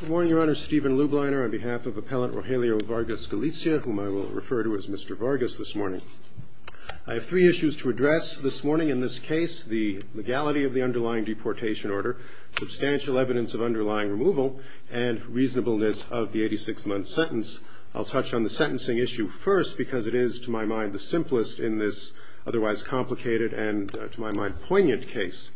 Good morning, Your Honor. Stephen Lubliner on behalf of Appellant Rogelio Vargas-Galicia, whom I will refer to as Mr. Vargas this morning. I have three issues to address this morning. In this case, the legality of the underlying deportation order, substantial evidence of underlying removal, and reasonableness of the 86-month sentence. I'll touch on the sentencing issue first because it is, to my mind, the simplest in this otherwise complicated and, to my mind, poignant case.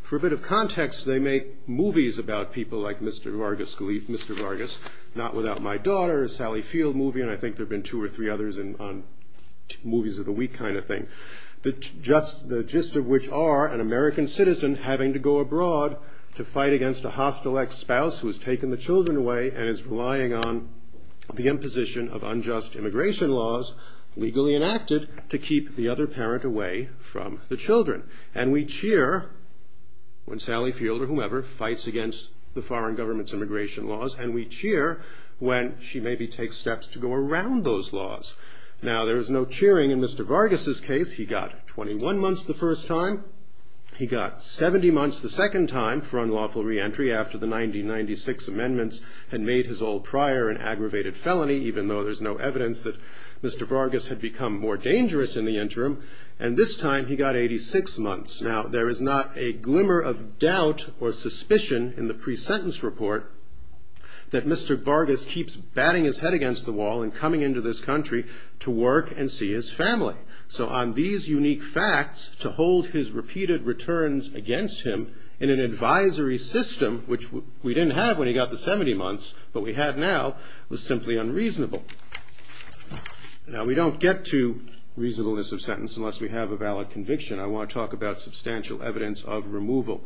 For a bit of context, they make movies about people like Mr. Vargas-Galicia, Mr. Vargas, Not Without My Daughter, a Sally Field movie, and I think there have been two or three others on movies of the week kind of thing. The gist of which are an American citizen having to go abroad to fight against a hostile ex-spouse who has taken the children away and is relying on the imposition of unjust immigration laws, legally enacted, to keep the other parent away from the children. And we cheer when Sally Field or whomever fights against the foreign government's immigration laws, and we cheer when she maybe takes steps to go around those laws. Now, there is no cheering in Mr. Vargas' case. He got 21 months the first time. He got 70 months the second time for unlawful re-entry after the 1996 amendments had made his old prior an aggravated felony, even though there's no evidence that Mr. Vargas had become more dangerous in the interim. And this time he got 86 months. Now, there is not a glimmer of doubt or suspicion in the pre-sentence report that Mr. Vargas keeps batting his head against the wall and coming into this country to work and see his family. So on these unique facts, to hold his repeated returns against him in an advisory system, which we didn't have when he got the 70 months, but we had now, was simply unreasonable. Now, we don't get to reasonableness of sentence unless we have a valid conviction. I want to talk about substantial evidence of removal.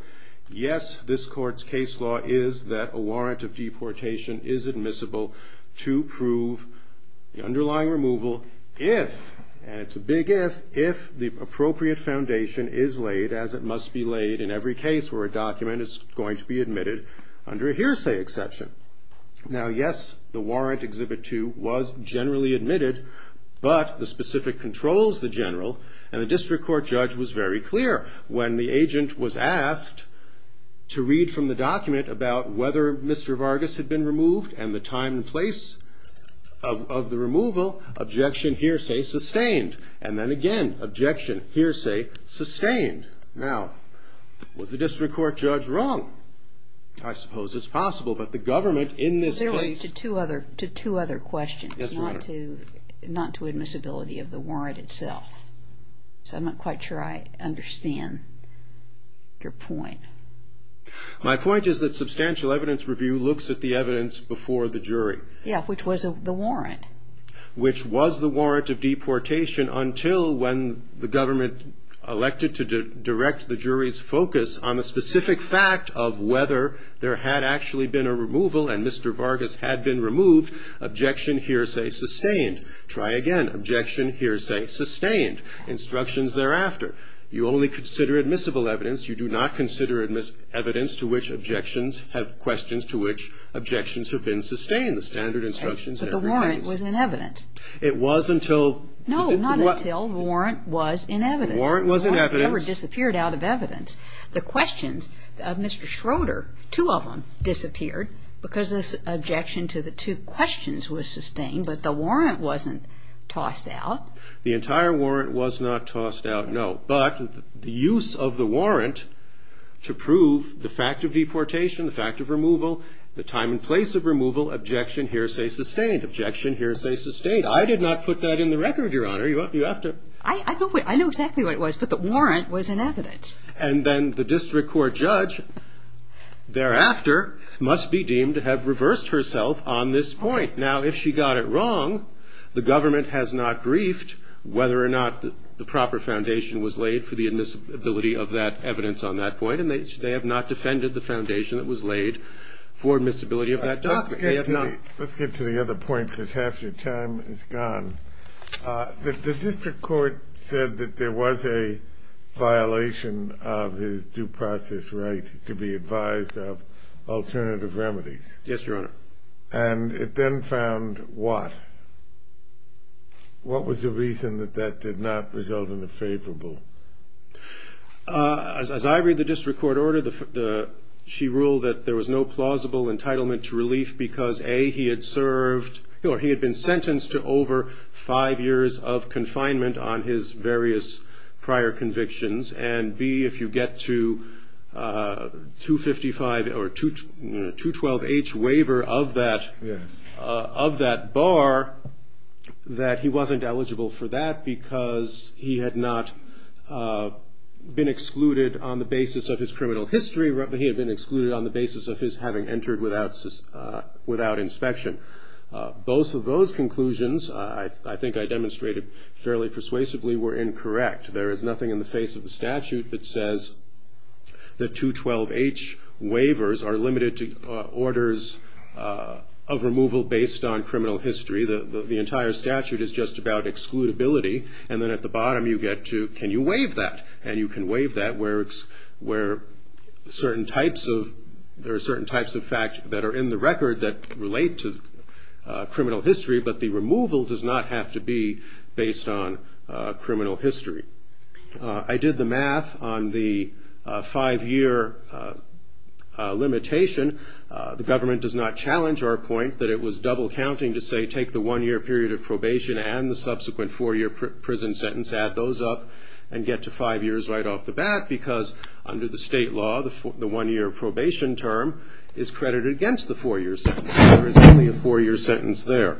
Yes, this court's case law is that a warrant of deportation is admissible to prove the underlying removal if, and it's a big if, if the appropriate foundation is laid as it must be laid in every case where a document is going to be admitted under a hearsay exception. Now, yes, the warrant, Exhibit 2, was generally admitted, but the specific controls, the general, and the district court judge was very clear. When the agent was asked to read from the document about whether Mr. Vargas had been removed and the time and place of the removal, objection, hearsay, sustained. Now, was the district court judge wrong? I suppose it's possible, but the government in this case... Really, to two other questions. Yes, Your Honor. Not to admissibility of the warrant itself. So I'm not quite sure I understand your point. My point is that substantial evidence review looks at the evidence before the jury. Yeah, which was the warrant. Which was the warrant of deportation until when the government elected to direct the jury's focus on the specific fact of whether there had actually been a removal and Mr. Vargas had been removed, objection, hearsay, sustained. Try again. Objection, hearsay, sustained. Instructions thereafter. You only consider admissible evidence. You do not consider evidence to which objections have questions to which objections have been sustained. The standard instructions... But the warrant was in evidence. It was until... No, not until the warrant was in evidence. The warrant was in evidence. It never disappeared out of evidence. The questions of Mr. Schroeder, two of them disappeared because this objection to the two questions was sustained, but the warrant wasn't tossed out. The entire warrant was not tossed out, no. But the use of the warrant to prove the fact of deportation, the fact of removal, the time and place of removal, objection, hearsay, sustained. Objection, hearsay, sustained. I did not put that in the record, Your Honor. You have to... I know exactly what it was, but the warrant was in evidence. And then the district court judge thereafter must be deemed to have reversed herself on this point. Now, if she got it wrong, the government has not briefed whether or not the proper foundation was laid for the admissibility of that evidence on that point, and they have not defended the foundation that was laid for admissibility of that document. Let's get to the other point because half your time is gone. The district court said that there was a violation of his due process right to be advised of alternative remedies. Yes, Your Honor. And it then found what? What was the reason that that did not result in a favorable? As I read the district court order, she ruled that there was no plausible entitlement to relief because, A, he had served or he had been sentenced to over five years of confinement on his various prior convictions, and, B, if you get to 255 or 212H waiver of that bar, that he wasn't eligible for that because he had not been excluded on the basis of his criminal history. He had been excluded on the basis of his having entered without inspection. Both of those conclusions, I think I demonstrated fairly persuasively, were incorrect. There is nothing in the face of the statute that says that 212H waivers are limited to orders of removal based on criminal history. The entire statute is just about excludability. And then at the bottom you get to can you waive that? And you can waive that where there are certain types of facts that are in the record that relate to criminal history, but the removal does not have to be based on criminal history. I did the math on the five-year limitation. The government does not challenge our point that it was double counting to say take the one-year period of probation and the subsequent four-year prison sentence, add those up, and get to five years right off the bat because under the state law the one-year probation term is credited against the four-year sentence. There is only a four-year sentence there.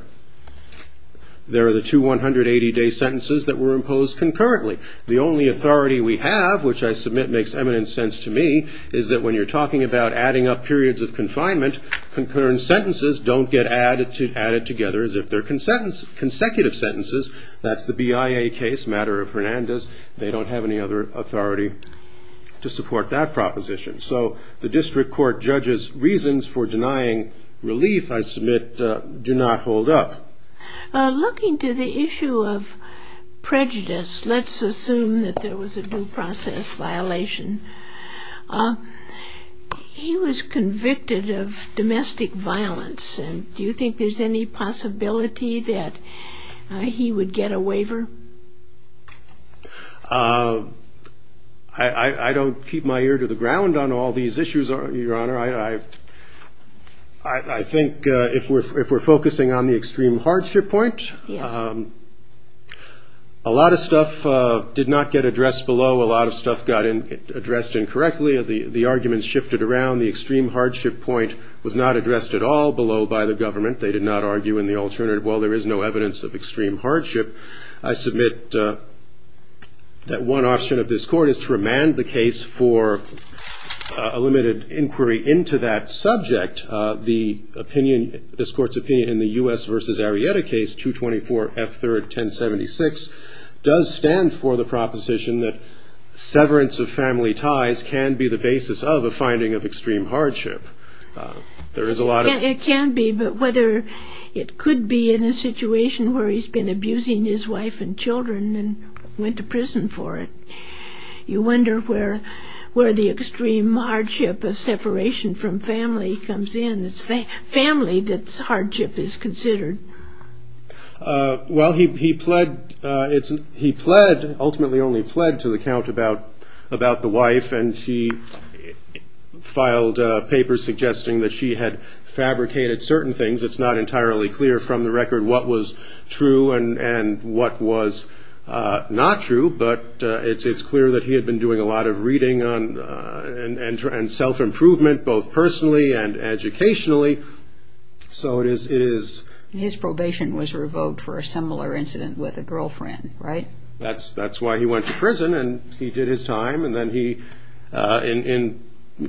There are the two 180-day sentences that were imposed concurrently. The only authority we have, which I submit makes eminent sense to me, is that when you're talking about adding up periods of confinement, concurrent sentences don't get added together as if they're consecutive sentences. That's the BIA case, matter of Hernandez. They don't have any other authority to support that proposition. So the district court judges' reasons for denying relief, I submit, do not hold up. Looking to the issue of prejudice, let's assume that there was a due process violation. He was convicted of domestic violence, and do you think there's any possibility that he would get a waiver? I don't keep my ear to the ground on all these issues, Your Honor. I think if we're focusing on the extreme hardship point, a lot of stuff did not get addressed below. A lot of stuff got addressed incorrectly. The arguments shifted around. The extreme hardship point was not addressed at all below by the government. They did not argue in the alternative, well, there is no evidence of extreme hardship. I submit that one option of this Court is to remand the case for a limited inquiry into that subject. The opinion, this Court's opinion in the U.S. v. Arrieta case, 224 F. 3rd, 1076, does stand for the proposition that severance of family ties can be the basis of a finding of extreme hardship. There is a lot of... He had seen his wife and children and went to prison for it. You wonder where the extreme hardship of separation from family comes in. It's the family that's hardship is considered. Well, he pled... He ultimately only pled to the count about the wife, and she filed a paper suggesting that she had fabricated certain things. It's not entirely clear from the record what was true and what was not true, but it's clear that he had been doing a lot of reading and self-improvement, both personally and educationally. So it is... His probation was revoked for a similar incident with a girlfriend, right? That's why he went to prison, and he did his time. And then he...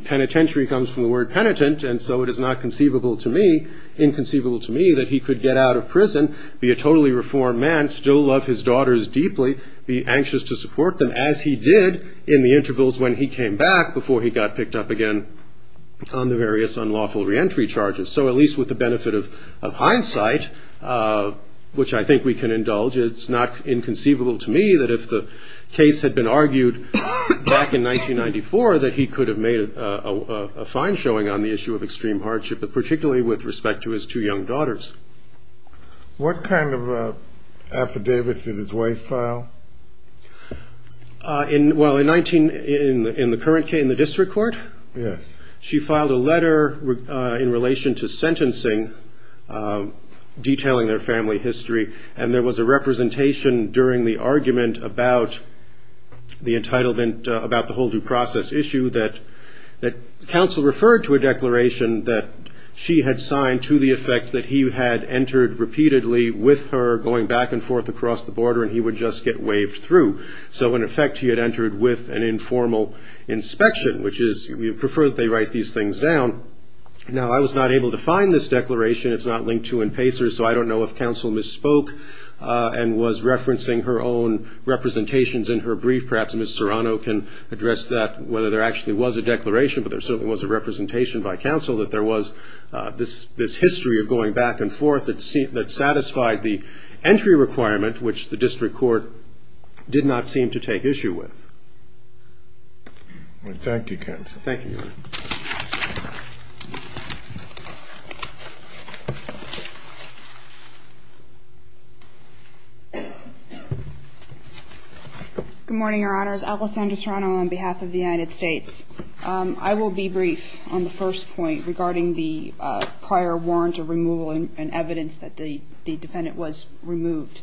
Penitentiary comes from the word penitent, and so it is not conceivable to me, inconceivable to me, that he could get out of prison, be a totally reformed man, still love his daughters deeply, be anxious to support them as he did in the intervals when he came back before he got picked up again on the various unlawful reentry charges. So at least with the benefit of hindsight, which I think we can indulge, it's not inconceivable to me that if the case had been argued back in 1994, that he could have made a fine showing on the issue of extreme hardship, but particularly with respect to his two young daughters. What kind of affidavits did his wife file? Well, in the current case, in the district court, she filed a letter in relation to sentencing, detailing their family history, and there was a representation during the argument about the entitlement, about the whole due process issue, that counsel referred to a declaration that she had signed to the effect that he had entered repeatedly with her going back and forth across the border, and he would just get waved through. So in effect, he had entered with an informal inspection, which is we prefer that they write these things down. Now, I was not able to find this declaration. It's not linked to in Pacers, so I don't know if counsel misspoke and was referencing her own representations in her brief. Perhaps Ms. Serrano can address that, whether there actually was a declaration, but there certainly was a representation by counsel that there was this history of going back and forth that satisfied the entry requirement, which the district court did not seem to take issue with. Thank you, counsel. Your Honors, Alessandra Serrano on behalf of the United States. I will be brief on the first point regarding the prior warrant of removal and evidence that the defendant was removed.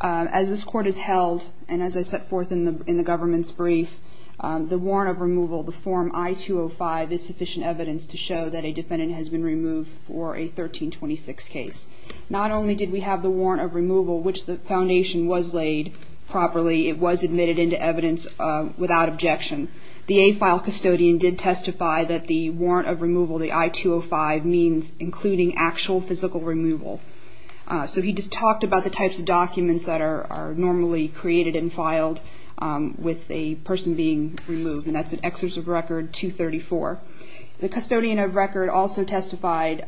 As this Court has held, and as I set forth in the government's brief, the warrant of removal, the form I-205, is sufficient evidence to show that a defendant has been removed for a 1326 case. Not only did we have the warrant of removal, which the foundation was laid properly, it was admitted into evidence without objection. The AFILE custodian did testify that the warrant of removal, the I-205, means including actual physical removal. So he just talked about the types of documents that are normally created and filed with a person being removed, and that's an excerpt of record 234. The custodian of record also testified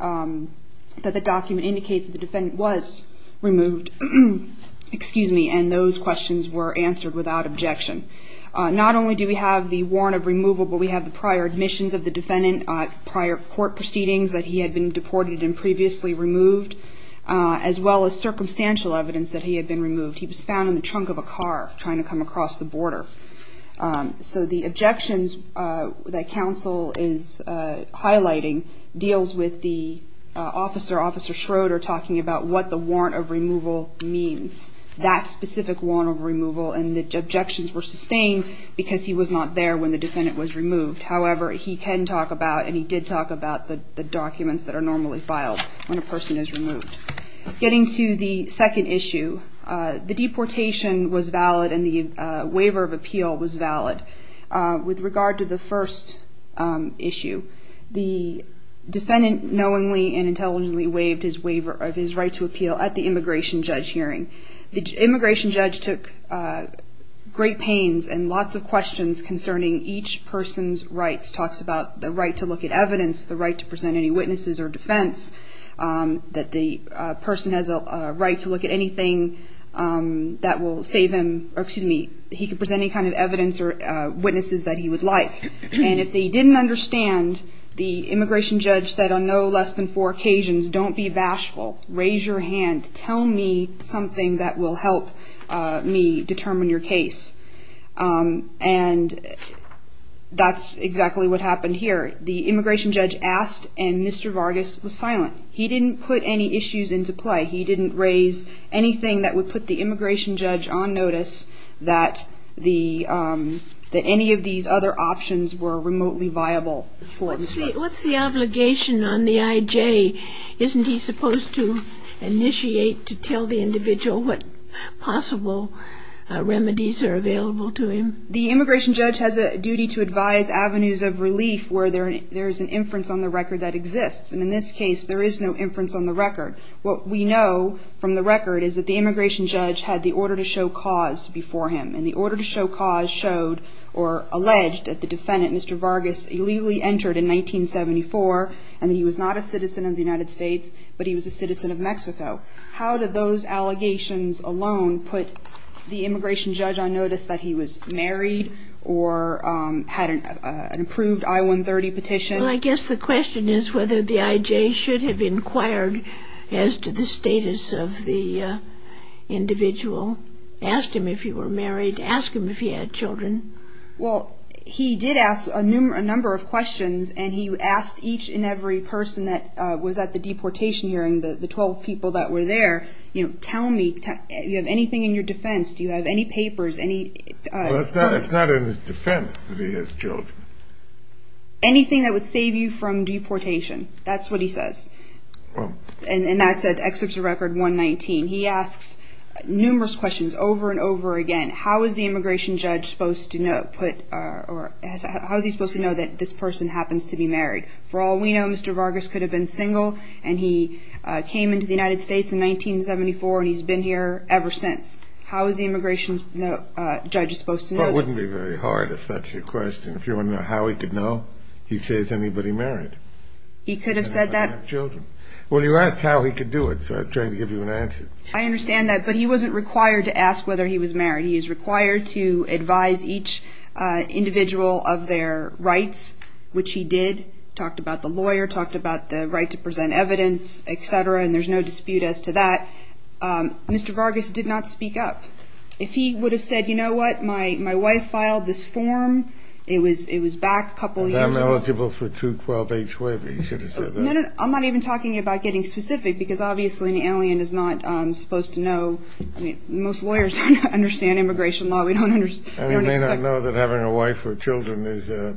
that the document indicates that the defendant was removed, and those questions were answered without objection. Not only do we have the warrant of removal, but we have the prior admissions of the defendant, prior court proceedings that he had been deported and previously removed, as well as circumstantial evidence that he had been removed. He was found in the trunk of a car trying to come across the border. So the objections that counsel is highlighting deals with the officer, Officer Schroeder, talking about what the warrant of removal means, that specific warrant of removal, and the objections were sustained because he was not there when the defendant was removed. However, he can talk about, and he did talk about, the documents that are normally filed when a person is removed. Getting to the second issue, the deportation was valid and the waiver of appeal was valid. With regard to the first issue, the defendant knowingly and intelligently waived his right to appeal at the immigration judge hearing. The immigration judge took great pains and lots of questions concerning each person's rights, talks about the right to look at evidence, the right to present any witnesses or defense, that the person has a right to look at anything that will save him, or excuse me, he can present any kind of evidence or witnesses that he would like. And if he didn't understand, the immigration judge said on no less than four occasions, don't be bashful, raise your hand, tell me something that will help me determine your case. And that's exactly what happened here. The immigration judge asked and Mr. Vargas was silent. He didn't put any issues into play. He didn't raise anything that would put the immigration judge on notice that any of these other options were remotely viable. What's the obligation on the IJ? Isn't he supposed to initiate to tell the individual what possible remedies are available to him? The immigration judge has a duty to advise avenues of relief where there is an inference on the record that exists. And in this case, there is no inference on the record. What we know from the record is that the immigration judge had the order to show cause before him. And the order to show cause showed or alleged that the defendant, Mr. Vargas, illegally entered in 1974 and he was not a citizen of the United States, but he was a citizen of Mexico. How did those allegations alone put the immigration judge on notice that he was married or had an approved I-130 petition? Well, I guess the question is whether the IJ should have inquired as to the status of the individual. Asked him if he were married. Asked him if he had children. Well, he did ask a number of questions and he asked each and every person that was at the deportation hearing, the 12 people that were there, you know, tell me, do you have anything in your defense? Do you have any papers? Well, it's not in his defense that he has children. Anything that would save you from deportation. That's what he says. And that's at Excerpts of Record 119. He asks numerous questions over and over again. How is the immigration judge supposed to know that this person happens to be married? For all we know, Mr. Vargas could have been single and he came into the United States in 1974 and he's been here ever since. How is the immigration judge supposed to know this? Well, it wouldn't be very hard if that's your question. If you want to know how he could know, he'd say, is anybody married? He could have said that. Well, you asked how he could do it, so I was trying to give you an answer. I understand that, but he wasn't required to ask whether he was married. He is required to advise each individual of their rights, which he did. He talked about the lawyer, talked about the right to present evidence, etc., and there's no dispute as to that. Mr. Vargas did not speak up. If he would have said, you know what, my wife filed this form, it was back a couple years ago. And I'm eligible for two 12-H waivers, you should have said that. No, no, I'm not even talking about getting specific because obviously an alien is not supposed to know. I mean, most lawyers don't understand immigration law. And they don't know that having a wife or children is a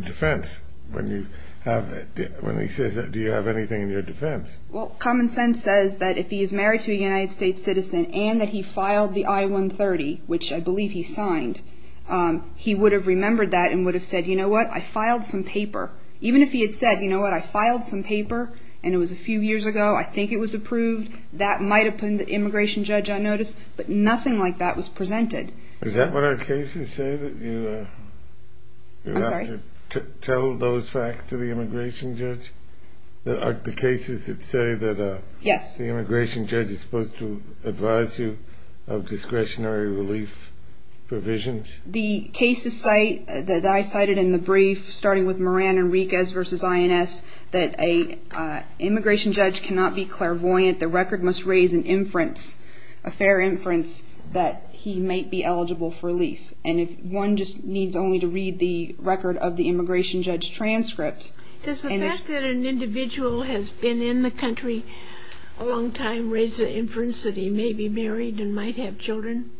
defense. When he says that, do you have anything in your defense? Well, common sense says that if he is married to a United States citizen and that he filed the I-130, which I believe he signed, he would have remembered that and would have said, you know what, I filed some paper. Even if he had said, you know what, I filed some paper and it was a few years ago, I think it was approved, that might have put an immigration judge on notice, but nothing like that was presented. Is that what our cases say, that you have to tell those facts to the immigration judge? The cases that say that the immigration judge is supposed to advise you of discretionary relief provisions? The cases that I cited in the brief, starting with Moran and Riquez v. INS, that an immigration judge cannot be clairvoyant, the record must raise an inference, a fair inference, that he might be eligible for relief. And if one just needs only to read the record of the immigration judge's transcript... Does the fact that an individual has been in the country a long time raise the inference that he may be married and might have children?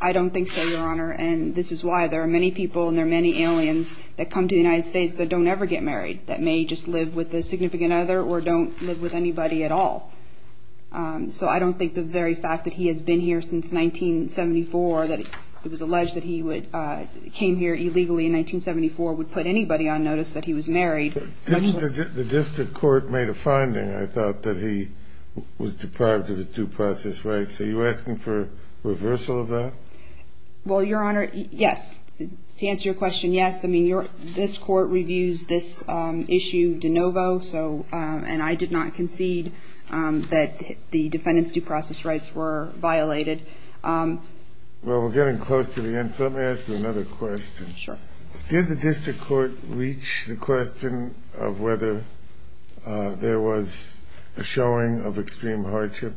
I don't think so, Your Honor, and this is why there are many people and there are many aliens that come to the United States that don't ever get married, that may just live with a significant other or don't live with anybody at all. So I don't think the very fact that he has been here since 1974, that it was alleged that he came here illegally in 1974, would put anybody on notice that he was married. The district court made a finding, I thought, that he was deprived of his due process rights. Are you asking for reversal of that? Well, Your Honor, yes. To answer your question, yes. I mean, this Court reviews this issue de novo, and I did not concede that the defendant's due process rights were violated. Well, we're getting close to the end, so let me ask you another question. Sure. Did the district court reach the question of whether there was a showing of extreme hardship?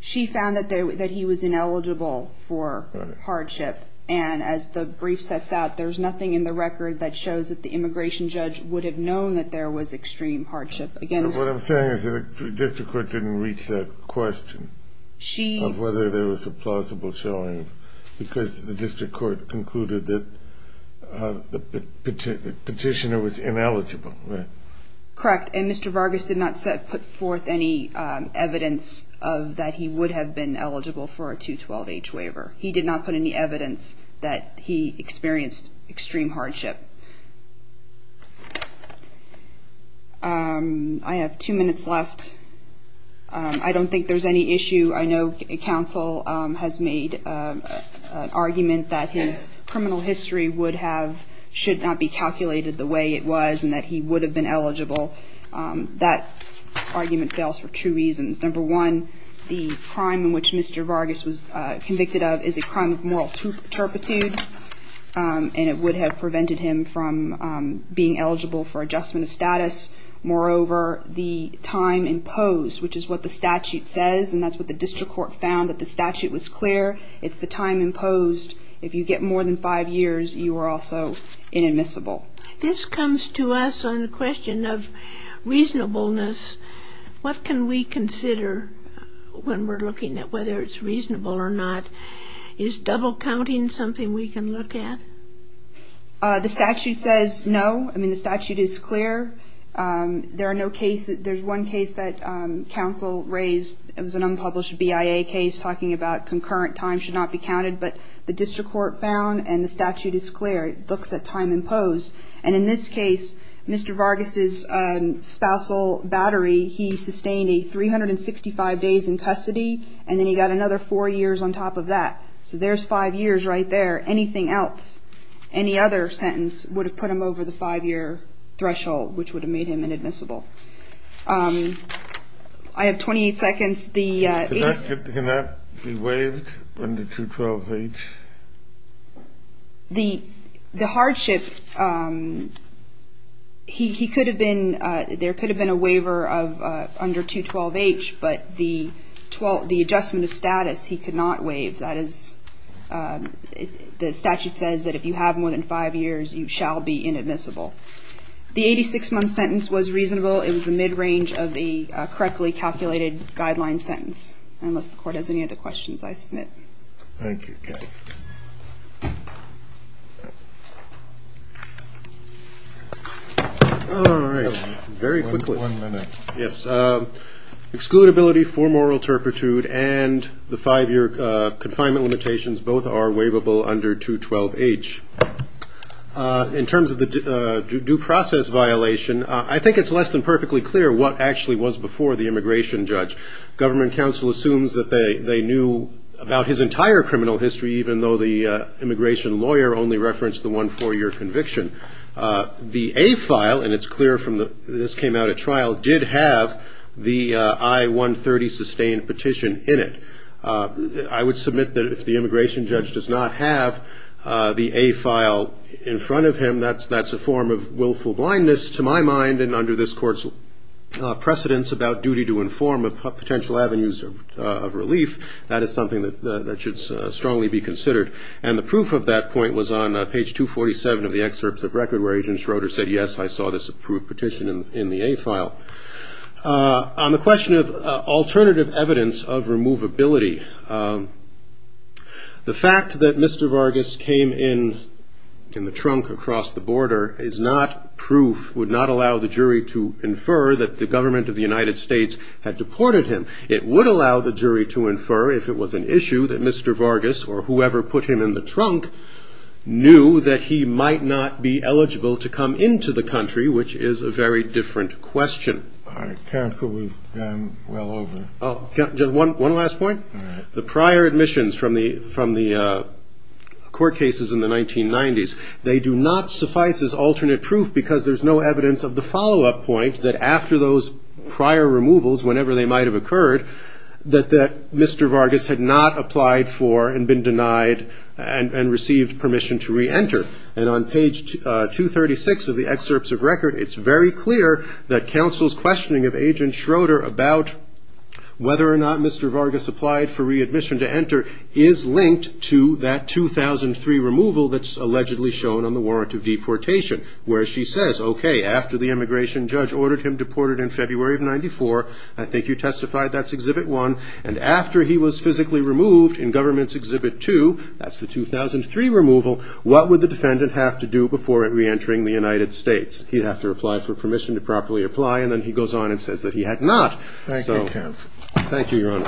She found that he was ineligible for hardship, and as the brief sets out, there's nothing in the record that shows that the immigration judge would have known that there was extreme hardship. What I'm saying is that the district court didn't reach that question of whether there was a plausible showing, because the district court concluded that the petitioner was ineligible, right? Correct. And Mr. Vargas did not put forth any evidence that he would have been eligible for a 212-H waiver. He did not put any evidence that he experienced extreme hardship. I have two minutes left. I don't think there's any issue. I know counsel has made an argument that his criminal history would have, should not be calculated the way it was, and that he would have been eligible. That argument fails for two reasons. Number one, the crime in which Mr. Vargas was convicted of is a crime of moral turpitude, and it would have prevented him from being eligible for adjustment of status. Moreover, the time imposed, which is what the statute says, and that's what the district court found, that the statute was clear. It's the time imposed. If you get more than five years, you are also inadmissible. This comes to us on the question of reasonableness. What can we consider when we're looking at whether it's reasonable or not? Is double counting something we can look at? The statute says no. I mean, the statute is clear. There's one case that counsel raised. It was an unpublished BIA case talking about concurrent time should not be counted. But the district court found, and the statute is clear, it looks at time imposed. And in this case, Mr. Vargas' spousal battery, he sustained a 365 days in custody, and then he got another four years on top of that. So there's five years right there. Anything else, any other sentence, would have put him over the five-year threshold, which would have made him inadmissible. I have 28 seconds. Can that be waived under 212H? The hardship, there could have been a waiver under 212H, but the adjustment of status, he could not waive. The statute says that if you have more than five years, you shall be inadmissible. The 86-month sentence was reasonable. It was the mid-range of the correctly calculated guideline sentence, unless the court has any other questions, I submit. Excludability for moral turpitude and the five-year confinement limitations, both are waivable under 212H. In terms of the due process violation, I think it's less than perfectly clear what actually was before the immigration judge. Government counsel assumes that they knew about his entire criminal history, even though the immigration lawyer only referenced the one four-year conviction. The A file, and it's clear from this came out at trial, did have the I-130 sustained petition in it. I would submit that if the immigration judge does not have the A file in front of him, that's a form of willful blindness to my mind, and under this court's precedence, it's about duty to inform of potential avenues of relief. That is something that should strongly be considered, and the proof of that point was on page 247 of the excerpts of record, where Agent Schroeder said, yes, I saw this approved petition in the A file. On the question of alternative evidence of removability, the fact that Mr. Vargas came in the trunk across the border is not proof, would not allow the jury to infer that the government of the United States had deported him. It would allow the jury to infer if it was an issue that Mr. Vargas or whoever put him in the trunk knew that he might not be eligible to come into the country, which is a very different question. All right. Counsel, we've gone well over. One last point. The prior admissions from the court cases in the 1990s, they do not suffice as alternate proof because there's no evidence of the follow-up point that after those prior removals, whenever they might have occurred, that Mr. Vargas had not applied for and been denied and received permission to reenter. And on page 236 of the excerpts of record, it's very clear that counsel's questioning of Agent Schroeder about whether or not Mr. Vargas applied for readmission to enter is linked to that 2003 removal that's allegedly shown on the warrant of deportation, where she says, okay, after the immigration judge ordered him deported in February of 94, I think you testified that's Exhibit 1, and after he was physically removed in Government's Exhibit 2, that's the 2003 removal, what would the defendant have to do before reentering the United States? He'd have to apply for permission to properly apply, and then he goes on and says that he had not. Thank you, counsel. Thank you, Your Honor.